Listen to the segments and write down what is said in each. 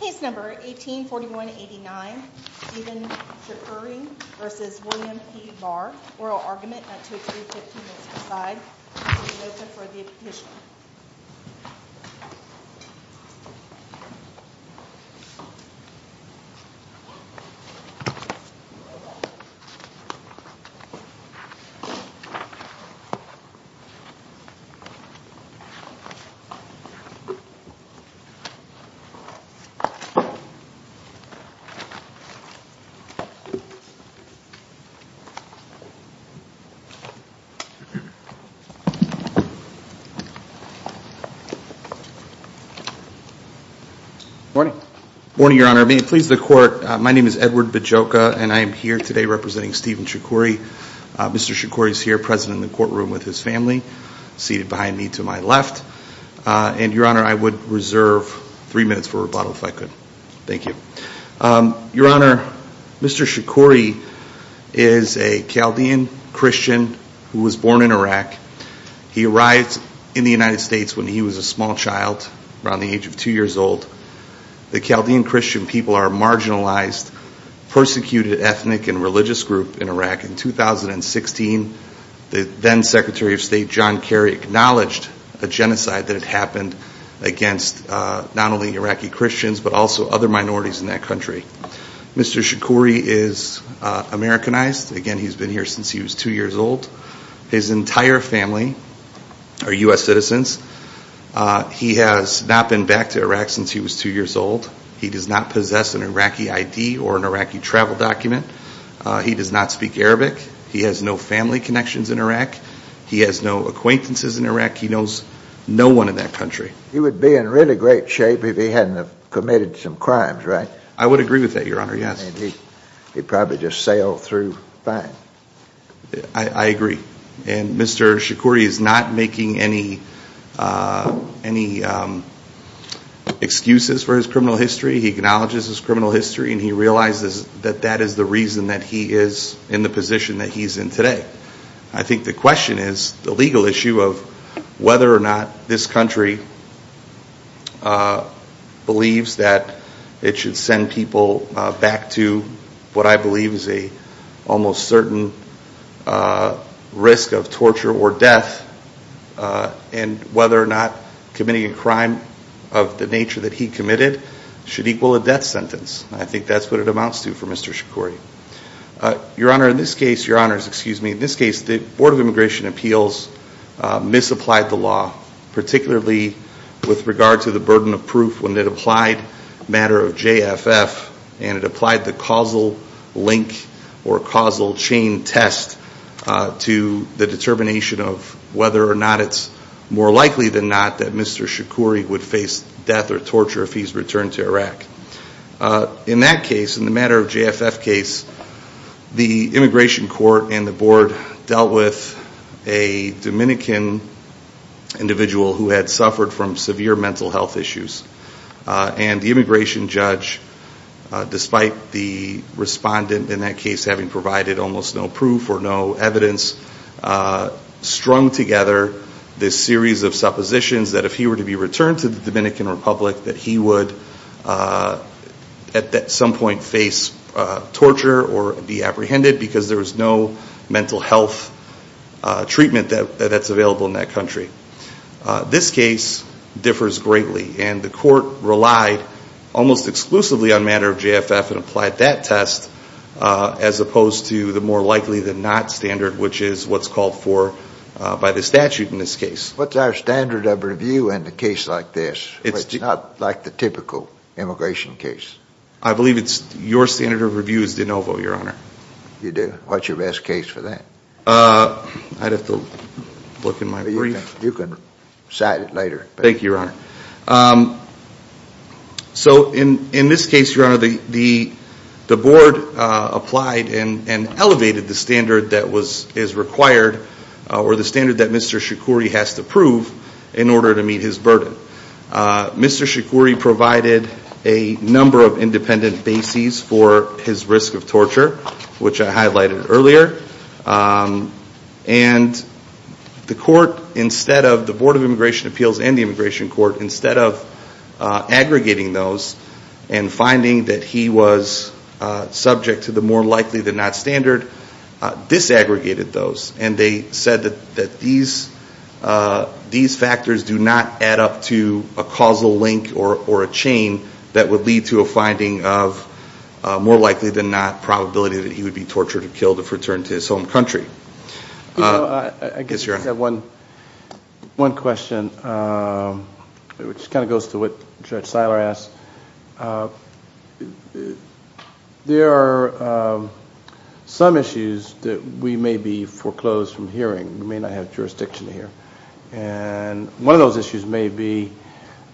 Case number 18-4189 Stephen Shakkuri v. William P Barr Oral Argument at 20315 Mississippi Side Please be noted for the petition Morning, your honor. May it please the court, my name is Edward Bajoka and I am here today representing Stephen Shakkuri. Mr. Shakkuri is here present in the courtroom with his three minutes for rebuttal. Your honor, Mr. Shakkuri is a Chaldean Christian who was born in Iraq. He arrived in the United States when he was a small child, around the age of two years old. The Chaldean Christian people are a marginalized, persecuted ethnic and religious group in Iraq. In 2016, the then Secretary of State John Kerry acknowledged a genocide that had happened against not only Iraqi Christians but also other minorities in that country. Mr. Shakkuri is Americanized. Again, he's been here since he was two years old. His entire family are U.S. citizens. He has not been back to Iraq since he was two years old. He does not possess an Iraqi ID or an Iraqi travel document. He does not speak Arabic. He has no family connections in Iraq. He has no acquaintances in Iraq. He knows no one in that country. He would be in really great shape if he hadn't committed some crimes, right? I would agree with that, your honor, yes. He'd probably just sail through fine. I agree. And Mr. Shakkuri is not making any excuses for his criminal history. He acknowledges his criminal history and he realizes that that is the reason that he is in the position that he's in today. I think the question is the legal issue of whether or not this country believes that it should send people back to what I believe is a almost certain risk of torture or death and whether or not committing a crime of the nature that he committed should equal a death sentence. I think that's what it amounts to for Mr. Shakkuri. Your honor, in this case, the Board of Immigration Appeals misapplied the law, particularly with regard to the burden of proof when it applied matter of JFF and it applied the causal link or causal chain test to the determination of whether or not it's more likely than not that Mr. Shakkuri would return to Iraq. In that case, in the matter of JFF case, the immigration court and the board dealt with a Dominican individual who had suffered from severe mental health issues and the immigration judge, despite the respondent in that case having provided almost no proof or no evidence, strung together this series of suppositions that if he were returned to the Dominican Republic that he would at some point face torture or be apprehended because there was no mental health treatment that's available in that country. This case differs greatly and the court relied almost exclusively on matter of JFF and applied that test as opposed to the more likely than not standard, which is what's called for by the case like this. It's not like the typical immigration case. I believe it's your standard of review is de novo, Your Honor. You do? What's your best case for that? I'd have to look in my brief. You can cite it later. Thank you, Your Honor. So in this case, Your Honor, the board applied and elevated the standard that is required or the standard that Mr. Shakouri provided a number of independent bases for his risk of torture, which I highlighted earlier. And the court, instead of the Board of Immigration Appeals and the Immigration Court, instead of aggregating those and finding that he was subject to the more likely than a causal link or a chain that would lead to a finding of more likely than not probability that he would be tortured or killed if returned to his home country. I guess I have one question, which kind of goes to what Judge Seiler asked. There are some issues that we may be foreclosed from hearing. We may not have jurisdiction here. And one of those issues may be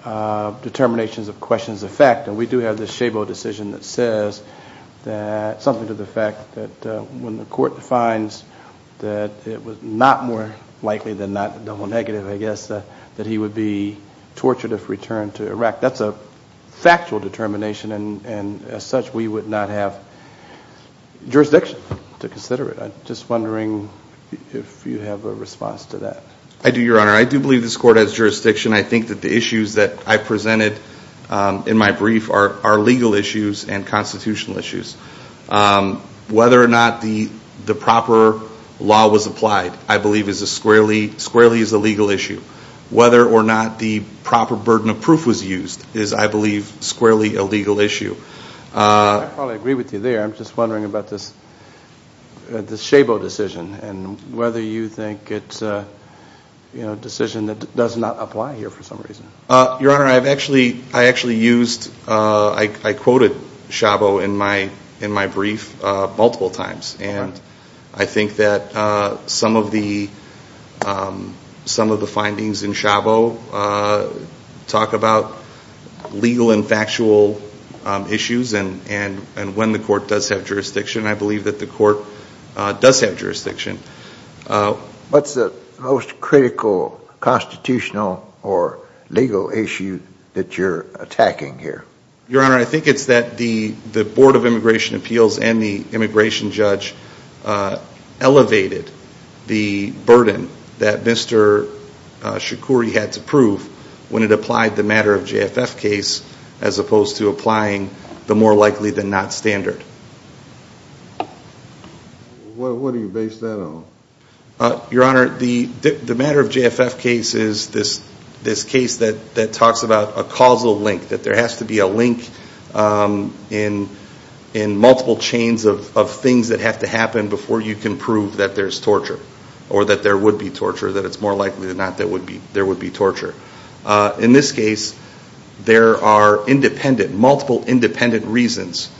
determinations of questions of fact. And we do have this Chabot decision that says that something to the fact that when the court defines that it was not more likely than not double negative, I guess, that he would be tortured if returned to Iraq. That's a factual determination. And as such, we would not have jurisdiction to consider it. I'm just wondering if you have a response to that. I do, Your Honor. I do believe this court has jurisdiction. I think that the issues that I presented in my brief are legal issues and constitutional issues. Whether or not the proper law was applied, I believe, is a squarely legal issue. Whether or not the proper burden of proof was used is, I believe, squarely a legal issue. I probably agree with you there. I'm just wondering about this Chabot decision and whether you think it's a decision that does not apply here for some reason. Your Honor, I actually used, I quoted Chabot in my brief multiple times. And I think that some of the findings in Chabot talk about legal and factual issues and when the court does have jurisdiction. I believe that the court does have jurisdiction. What's the most critical constitutional or legal issue that you're attacking here? Your Honor, I think it's that the Board of Immigration Appeals and the it applied the matter-of-JFF case as opposed to applying the more likely-than-not standard. What do you base that on? Your Honor, the matter-of-JFF case is this case that talks about a causal link, that there has to be a link in multiple chains of things that have to happen before you can prove that there's torture or that there would be torture, that it's more likely than there would be torture. In this case, there are multiple independent reasons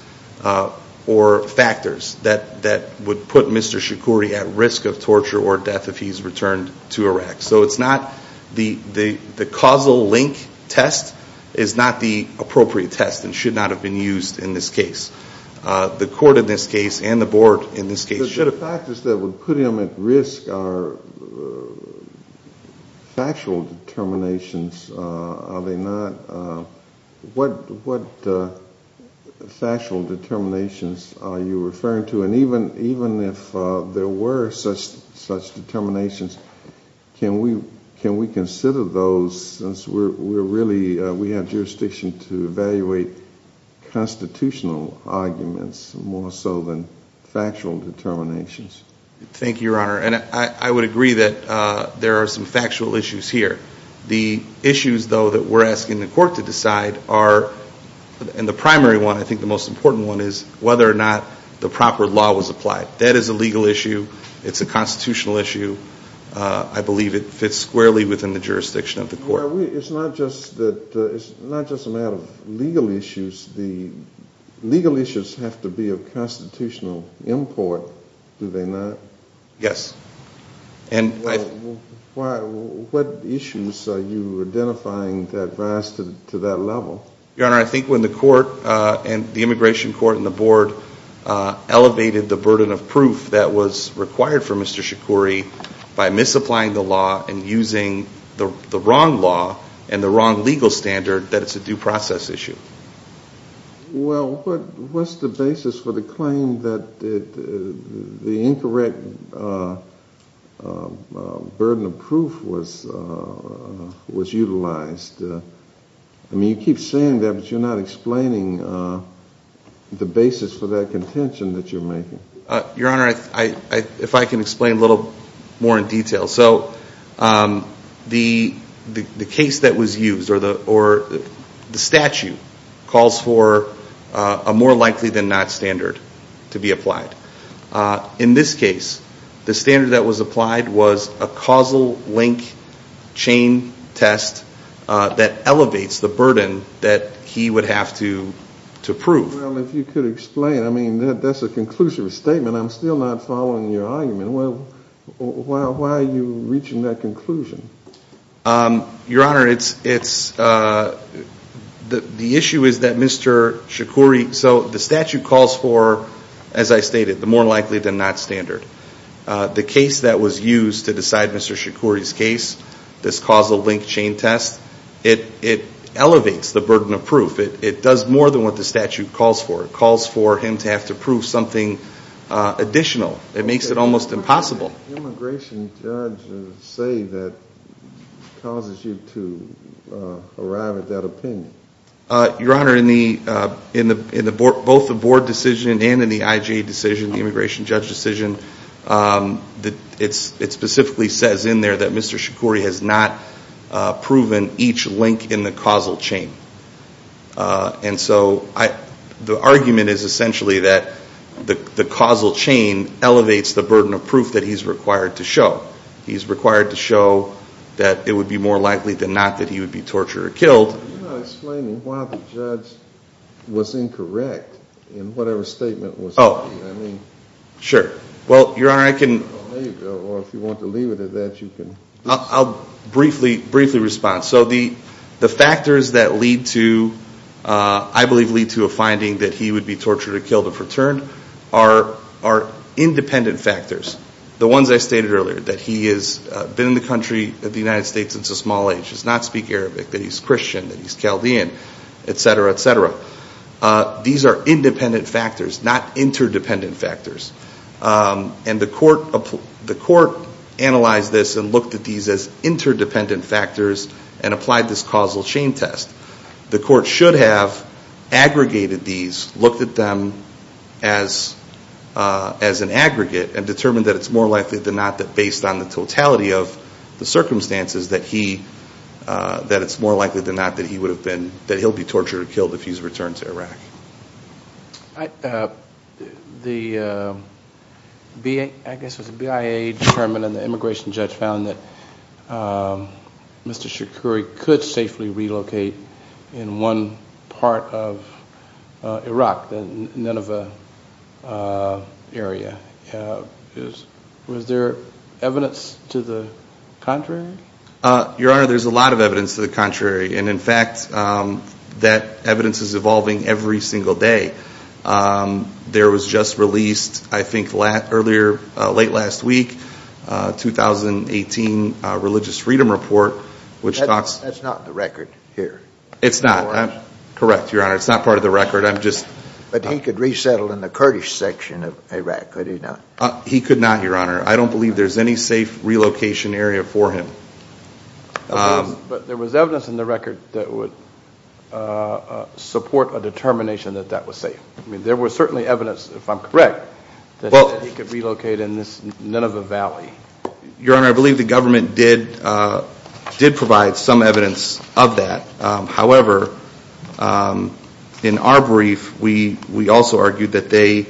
or factors that would put Mr. Shikori at risk of torture or death if he's returned to Iraq. So it's not the causal link test is not the appropriate test and should not have been used in this case. The court in this factual determinations, are they not, what factual determinations are you referring to? And even if there were such determinations, can we consider those since we're really, we have jurisdiction to evaluate constitutional arguments more so than factual determinations? Thank you, Your Honor, and I would agree that there are some factual issues here. The issues, though, that we're asking the court to decide are, and the primary one, I think the most important one, is whether or not the proper law was applied. That is a legal issue. It's a constitutional issue. I believe it fits squarely within the jurisdiction of the court. It's not just that, it's not just a matter of legal issues. The legal issues have to be of constitutional import, do they not? Yes. And what issues are you identifying that rise to that level? Your Honor, I think when the court and the immigration court and the board elevated the burden of proof that was required for Mr. Shikori by misapplying the wrong law and the wrong legal standard, that it's a due process issue. Well, what's the basis for the claim that the incorrect burden of proof was utilized? I mean, you keep saying that, but you're not explaining the basis for that contention that you're making. Your Honor, if I can explain a little more in detail. So the case that was used, or the statute, calls for a more likely than not standard to be applied. In this case, the standard that was applied was a causal link chain test that elevates the burden that he would have to prove. Well, if you could explain, I mean, that's a conclusive statement. I'm still not following your argument. Well, why are you reaching that conclusion? Your Honor, the issue is that Mr. Shikori, so the statute calls for, as I stated, the more likely than not standard. The case that was used to decide Mr. Shikori's case, this causal link chain test, it elevates the burden of proof. It does more than what the statute calls for. It calls for him to have to prove something additional. It makes it almost impossible. What does the immigration judge say that causes you to arrive at that opinion? Your Honor, in both the board decision and in the IJA decision, the immigration judge decision, it specifically says in there that Mr. Shikori has not proven each link in the causal chain. And so the argument is essentially that the causal chain elevates the burden of proof that he's required to show. He's required to show that it would be more likely than not that he would be tortured or killed. You're not explaining why the judge was incorrect in whatever statement was made. Oh, sure. Well, Your Honor, I can... Oh, there you go. Or if you factors that lead to, I believe, lead to a finding that he would be tortured or killed if returned are independent factors. The ones I stated earlier, that he has been in the country of the United States since a small age, does not speak Arabic, that he's Christian, that he's Chaldean, et cetera, et cetera. These are independent factors, not interdependent factors. And the court analyzed this and looked at these as interdependent factors and applied this causal chain test. The court should have aggregated these, looked at them as an aggregate and determined that it's more likely than not that based on the totality of the circumstances that it's more likely than not that he would have been, that he'll be tortured or killed if he's returned to Iraq. The BIA determined and the immigration judge found that Mr. Shoukri could safely relocate in one part of Iraq, the Nineveh area. Was there evidence to the contrary? Your Honor, there's a lot of evidence to the contrary. And in fact, that evidence is evolving every single day. There was just released, I think, earlier, late last week, 2018 Religious Freedom Report, which talks... That's not the record here. It's not. Correct, Your Honor. It's not part of the record. I'm just... But he could resettle in the Kurdish section of Iraq, could he not? He could not, Your Honor. I don't believe there's any safe relocation area for him. But there was evidence in the record that would support a determination that that was safe. I mean, there was certainly evidence, if I'm correct, that he could relocate in this Nineveh Valley. Your Honor, I believe the government did provide some evidence of that. However, in our brief, we also argued that the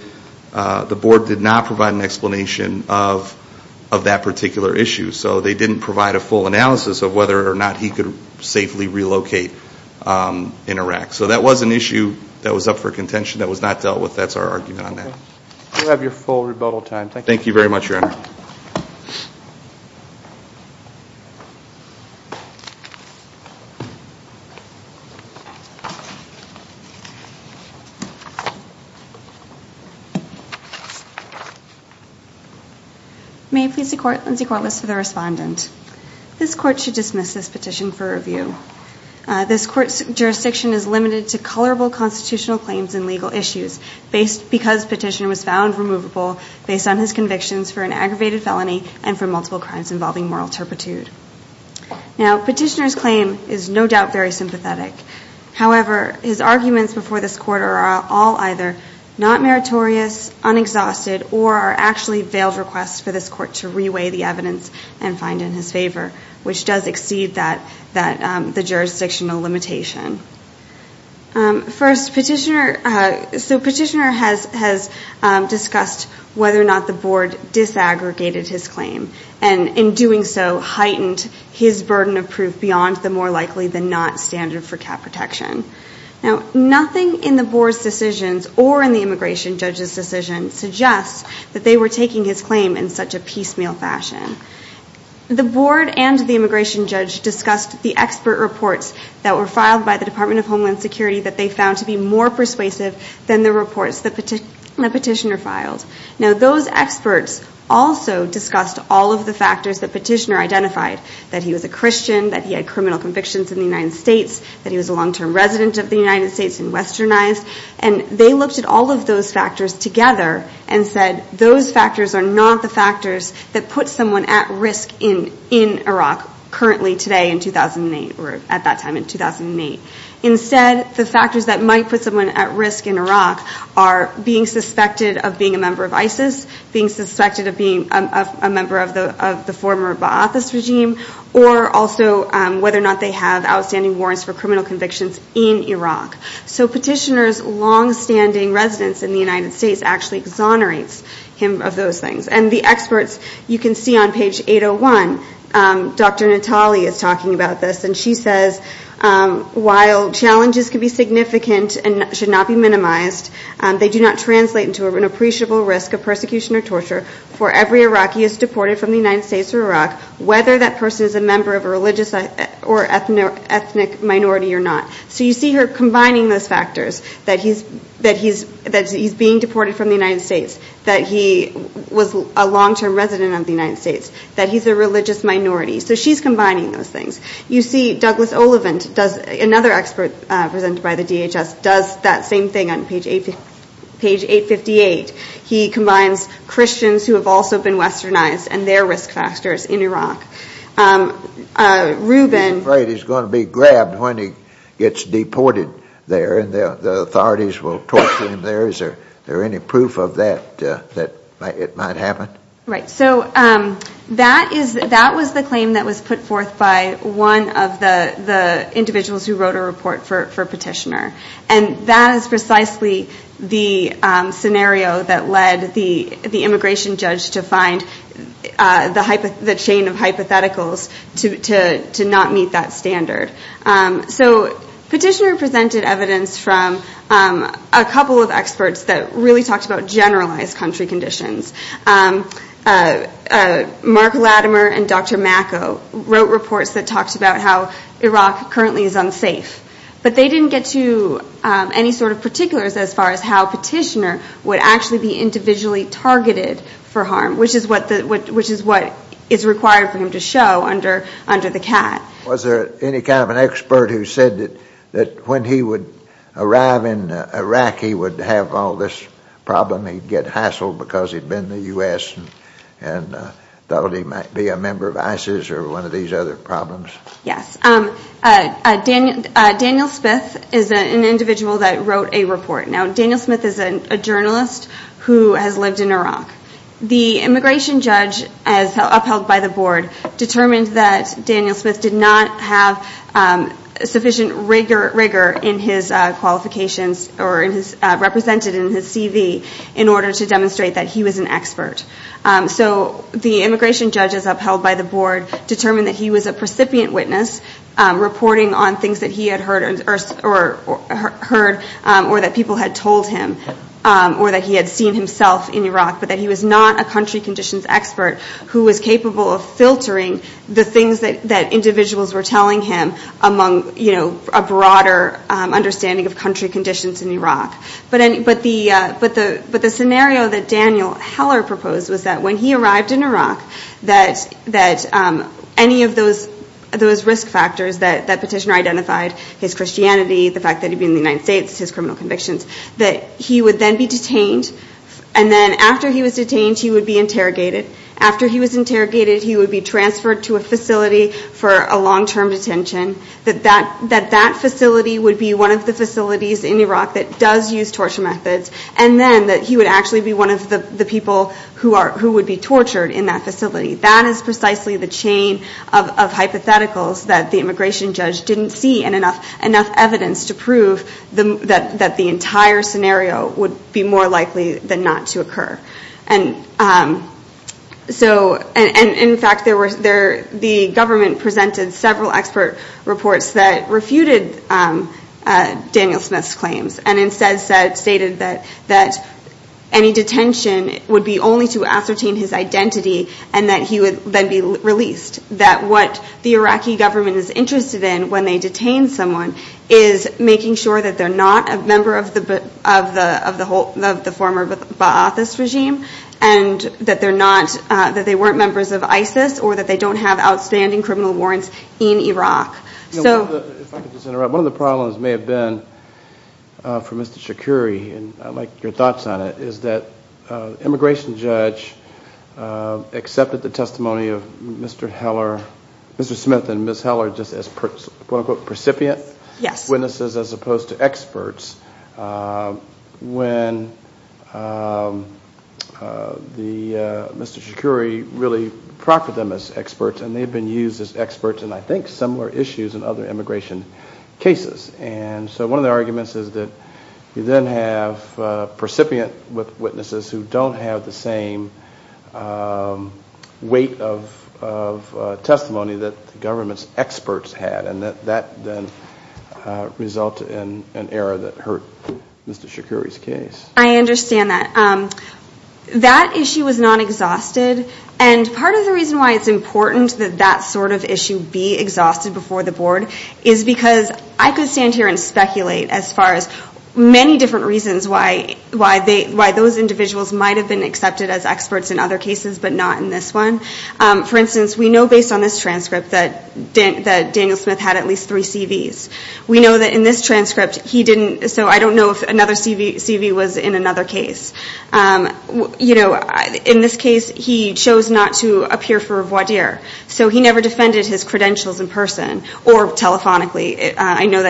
board did not provide an explanation of that particular issue. So they didn't provide a full analysis of whether or not he could safely relocate in Iraq. So that was an issue that was up for contention, that was not dealt with. That's our argument on that. You have your full rebuttal time. Thank you. Thank you very much, Your Honor. May it please the court, Lindsay Corliss for the respondent. This court should dismiss this petition for review. This court's jurisdiction is limited to colorable constitutional claims and legal issues because petitioner was found removable based on his convictions for an aggravated felony and for multiple crimes involving moral turpitude. Now, petitioner's claim is no However, his arguments before this court are all either not meritorious, unexhausted, or are actually veiled requests for this court to reweigh the evidence and find in his favor, which does exceed the jurisdictional limitation. First, petitioner has discussed whether or not the board disaggregated his claim and in doing so heightened his burden of proof beyond the more likely than standard for cap protection. Now, nothing in the board's decisions or in the immigration judge's decision suggests that they were taking his claim in such a piecemeal fashion. The board and the immigration judge discussed the expert reports that were filed by the Department of Homeland Security that they found to be more persuasive than the reports that petitioner filed. Now, those experts also discussed all of the factors that petitioner identified, that he was a Christian, that he had criminal convictions in the United States, that he was a long-term resident of the United States and westernized, and they looked at all of those factors together and said those factors are not the factors that put someone at risk in Iraq currently today in 2008, or at that time in 2008. Instead, the factors that might put someone at risk in Iraq are being suspected of being a member of ISIS, being suspected of being a member of the former Ba'athist regime, or also whether or not they have outstanding warrants for criminal convictions in Iraq. So petitioner's long-standing residence in the United States actually exonerates him of those things. And the experts, you can see on page 801, Dr. Natale is talking about this, and she says, while challenges can be significant and should not be minimized, they do not translate into an appreciable risk of persecution or torture for every Iraqi who is deported from the United States to Iraq, whether that person is a member of a religious or ethnic minority or not. So you see her combining those factors, that he's being deported from the United States, that he was a long-term resident of the United States, that he's a religious minority. So she's combining those things. You see Douglas Olivent, another expert presented by the DHS, does that same thing on page 858. He combines who have also been westernized and their risk factors in Iraq. He's afraid he's going to be grabbed when he gets deported there, and the authorities will torture him there. Is there any proof of that, that it might happen? Right. So that was the claim that was put forth by one of the individuals who wrote a report for the immigration judge to find the chain of hypotheticals to not meet that standard. So Petitioner presented evidence from a couple of experts that really talked about generalized country conditions. Mark Latimer and Dr. Macco wrote reports that talked about how Iraq currently is unsafe, but they didn't get to any sort of particulars as far as how Petitioner would actually be individually targeted for harm, which is what is required for him to show under the cat. Was there any kind of an expert who said that when he would arrive in Iraq he would have all this problem, he'd get hassled because he'd been in the U.S. and thought he might be a member of ISIS or one of these other problems? Yes. Daniel Smith is an individual that wrote a report. Now has lived in Iraq. The immigration judge, as upheld by the board, determined that Daniel Smith did not have sufficient rigor in his qualifications or represented in his CV in order to demonstrate that he was an expert. So the immigration judge, as upheld by the board, determined that he was a precipient witness reporting on things that he had heard or that people had told him or that he had seen himself in Iraq, but that he was not a country conditions expert who was capable of filtering the things that individuals were telling him among, you know, a broader understanding of country conditions in Iraq. But the scenario that Daniel Heller proposed was that when he arrived in Iraq, that any of those risk factors that Petitioner identified, his Christianity, the fact that he'd been in the United States, his criminal convictions, that he would then be detained and then after he was detained he would be interrogated. After he was interrogated he would be transferred to a facility for a long-term detention, that that facility would be one of the facilities in Iraq that does use torture methods, and then that he would actually be one of the people who would be tortured in that facility. That is precisely the chain of hypotheticals that the immigration judge didn't see in enough evidence to prove that the entire scenario would be more likely than not to occur. And so, and in fact, there were, the government presented several expert reports that refuted Daniel Smith's claims and instead stated that any detention would be only to ascertain his identity and that he would then be released. That what the Iraqi government is interested in when they detain someone is making sure that they're not a member of the former Ba'athist regime, and that they're not, that they weren't members of ISIS, or that they don't have outstanding criminal warrants in Iraq. One of the problems may have been for Mr. Shoukri, and I'd like your testimony of Mr. Heller, Mr. Smith and Ms. Heller, just as quote-unquote, precipient witnesses, as opposed to experts, when Mr. Shoukri really proctored them as experts, and they've been used as experts in, I think, similar issues in other immigration cases. And so one of the arguments is that you then have a precipient with witnesses who don't have the same weight of testimony that the government's experts had, and that that then resulted in an error that hurt Mr. Shoukri's case. I understand that. That issue was not exhausted, and part of the reason why it's important that that sort of issue be exhausted before the board is because I could stand here and speculate as far as many different reasons why those individuals might have been accepted as experts in other cases, but not in this one. For instance, we know based on this transcript that Daniel Smith had at least three CVs. We know that in this transcript he didn't, so I don't know if another CV was in another case. You know, in this case he chose not to appear for voir dire, so he never defended his credentials in person or telephonically. I don't know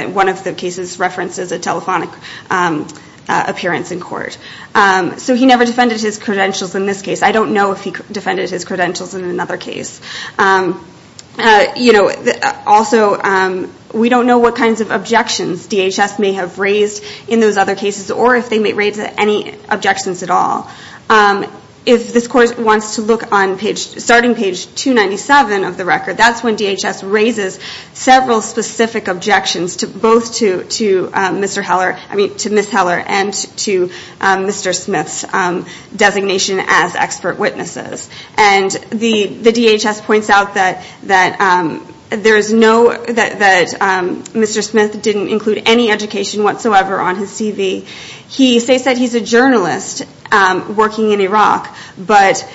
if he defended his credentials in another case. Also, we don't know what kinds of objections DHS may have raised in those other cases, or if they may raise any objections at all. If this court wants to look on starting page 297 of the record, that's when DHS raises several specific objections, both to Ms. Heller and to Mr. Smith's designation as expert witnesses. And the DHS points out that Mr. Smith didn't include any education whatsoever on his CV. They said he's a journalist working in Iraq, but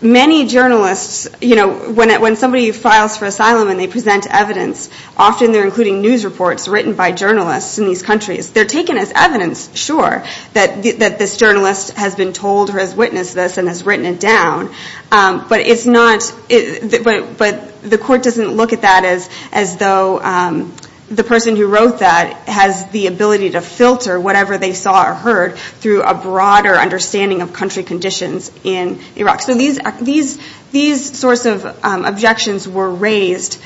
many journalists, you know, when somebody files for asylum and they present evidence, often they're including news reports written by journalists in these countries. They're taken as evidence, sure, that this journalist has been told or has witnessed this and has written it down, but the court doesn't look at that as though the person who wrote that has the ability to filter whatever they saw or heard through a broader understanding of country conditions in Iraq. So these sorts of objections were raised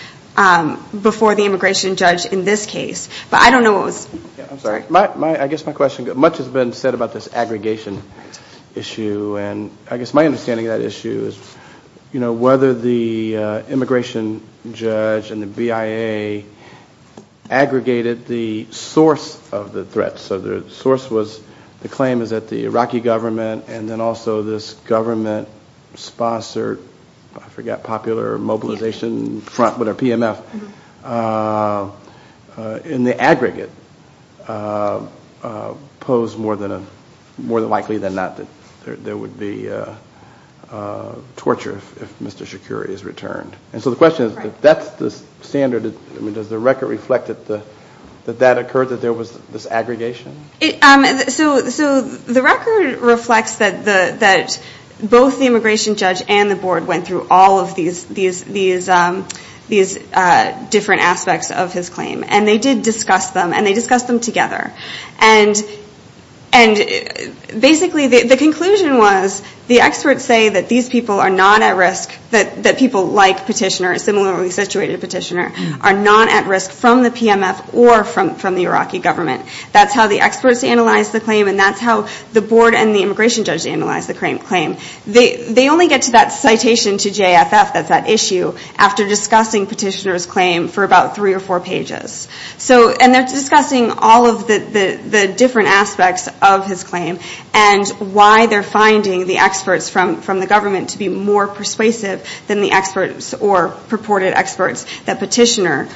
before the immigration judge in this case. But I don't know what was... I'm sorry. I guess my question, much has been said about this aggregation issue, and I guess my understanding of that issue is, you know, they aggregated the source of the threat. So the source was, the claim is that the Iraqi government and then also this government sponsored, I forgot, popular mobilization front, but a PMF, in the aggregate, posed more than likely than not that there would be Does the record reflect that that occurred, that there was this aggregation? So the record reflects that both the immigration judge and the board went through all of these different aspects of his claim, and they did discuss them, and they discussed them together. And basically the conclusion was the experts say that these people are not at risk, that people like Petitioner, similarly situated Petitioner, are not at risk from the PMF or from the Iraqi government. That's how the experts analyzed the claim, and that's how the board and the immigration judge analyzed the claim. They only get to that citation to JFF, that's that issue, after discussing Petitioner's claim for about three or four pages. And they're discussing all of the different aspects of his claim and why they're finding the experts from the government to be more persuasive than the experts or purported experts that Petitioner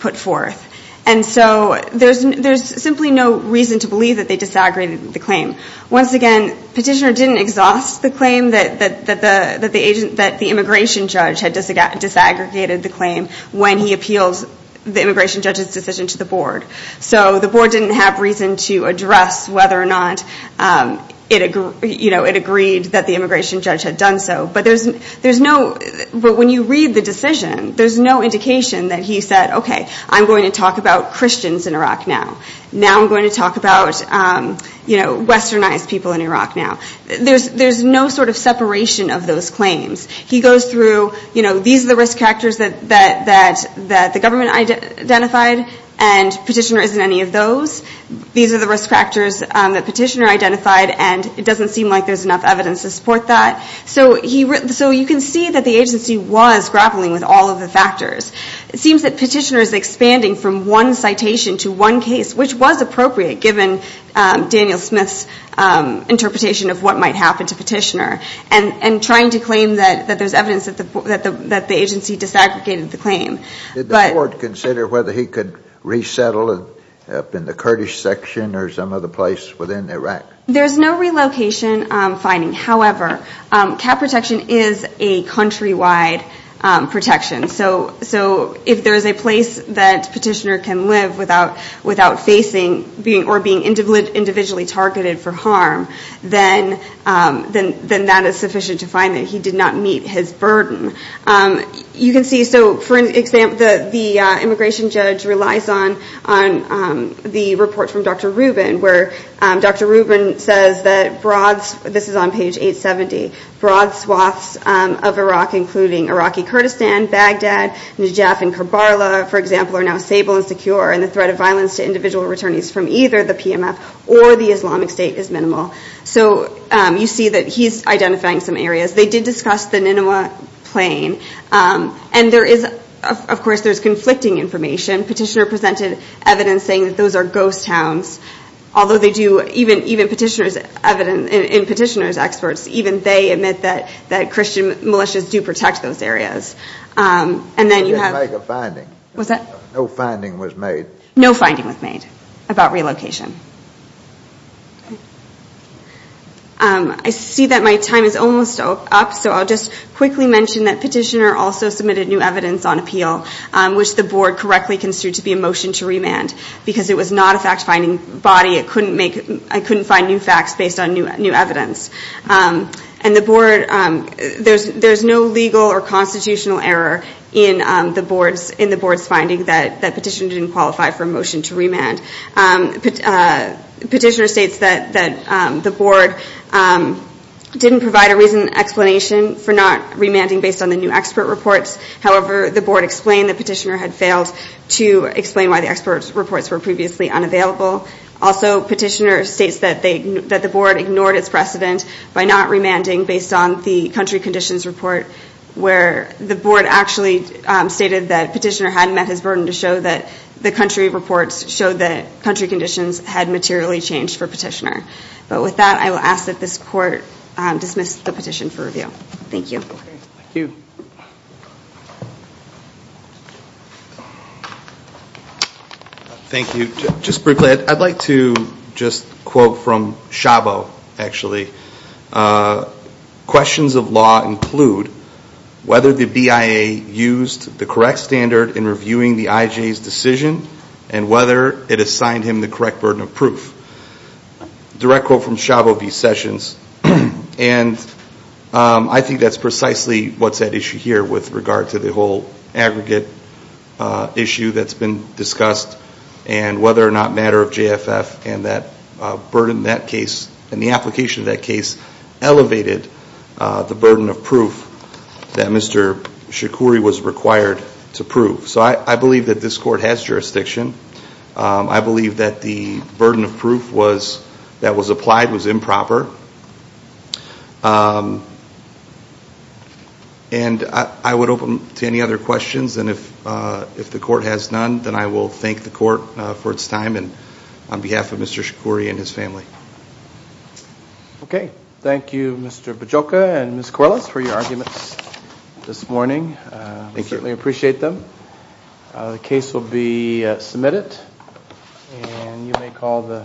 put forth. And so there's simply no reason to believe that they disaggregated the claim. Once again, Petitioner didn't exhaust the claim that the immigration judge had disaggregated the claim when he appeals the immigration judge's decision to the board. So the board didn't have reason to address whether or not it agreed that the immigration judge had done so. But when you read the decision, there's no indication that he said, okay, I'm going to talk about Christians in Iraq now. Now I'm going to talk about westernized people in Iraq now. There's no sort of separation of those claims. He goes through, these are the risk factors that the government identified, and Petitioner isn't any of those. These are the risk factors that Petitioner identified and it doesn't seem like there's enough evidence to support that. So you can see that the agency was grappling with all of the factors. It seems that Petitioner is expanding from one citation to one case, which was appropriate given Daniel Smith's interpretation of what might happen to Petitioner and trying to claim that there's evidence that the agency disaggregated the claim. Did the board consider whether he could resettle up in the Kurdish section or some other place within Iraq? There's no relocation finding. However, cap protection is a countrywide protection. So if there's a place that Petitioner can live without facing or being individually targeted for harm, then that is sufficient to find that he did not meet his burden. You can see, so for an example, the immigration judge relies on the report from Dr. Rubin, where Dr. Rubin says that broad, this is on page 870, broad swaths of Iraq, including Iraqi Kurdistan, Baghdad, Najaf and Karbala, for example, are now stable and secure and the threat of violence to individual returnees from either the PMF or the Islamic Petitioner presented evidence saying that those are ghost towns, although they do, even Petitioner's experts, even they admit that Christian militias do protect those areas. And then you have a finding. What's that? No finding was made. No finding was made about relocation. I see that my time is almost up, so I'll just quickly mention that Petitioner also submitted new evidence on appeal, which the board correctly construed to be a motion to remand, because it was not a fact-finding body. It couldn't make, it couldn't find new facts based on new evidence. And the board, there's no legal or constitutional error in the board's finding that Petitioner didn't qualify for a motion to remand. Petitioner states that the board didn't provide a reason and explanation for not remanding based on the new expert reports. However, the board explained that Petitioner had failed to explain why the expert reports were previously unavailable. Also, Petitioner states that the board ignored its precedent by not remanding based on the country conditions report, where the board actually stated that Petitioner hadn't met his burden to show that the country reports showed that country conditions had materially changed for Petitioner. But with that, I will ask that this court dismiss the petition for review. Thank you. Thank you. Thank you. Just briefly, I'd like to just quote from Shabo, actually. Questions of law include whether the BIA used the correct standard in reviewing the IJ's decision and whether it assigned him the correct burden of proof. Direct quote from Shabo v. Sessions. And I think that's precisely what's at issue here with regard to the whole aggregate issue that's been discussed and whether or not matter of JFF and that burden in that case and the application of that case elevated the burden of proof that Mr. Shakouri was required to prove. So I believe that this court has jurisdiction. I believe that the burden of proof that was applied was improper. And I would open to any other questions. And if the court has none, then I will thank the court for its time and on behalf of Mr. Shakouri and his family. Okay. Thank you, Mr. Bajoka and Ms. Corrales for your arguments this morning. Thank you. We certainly appreciate them. The case will be submitted. And you may call the.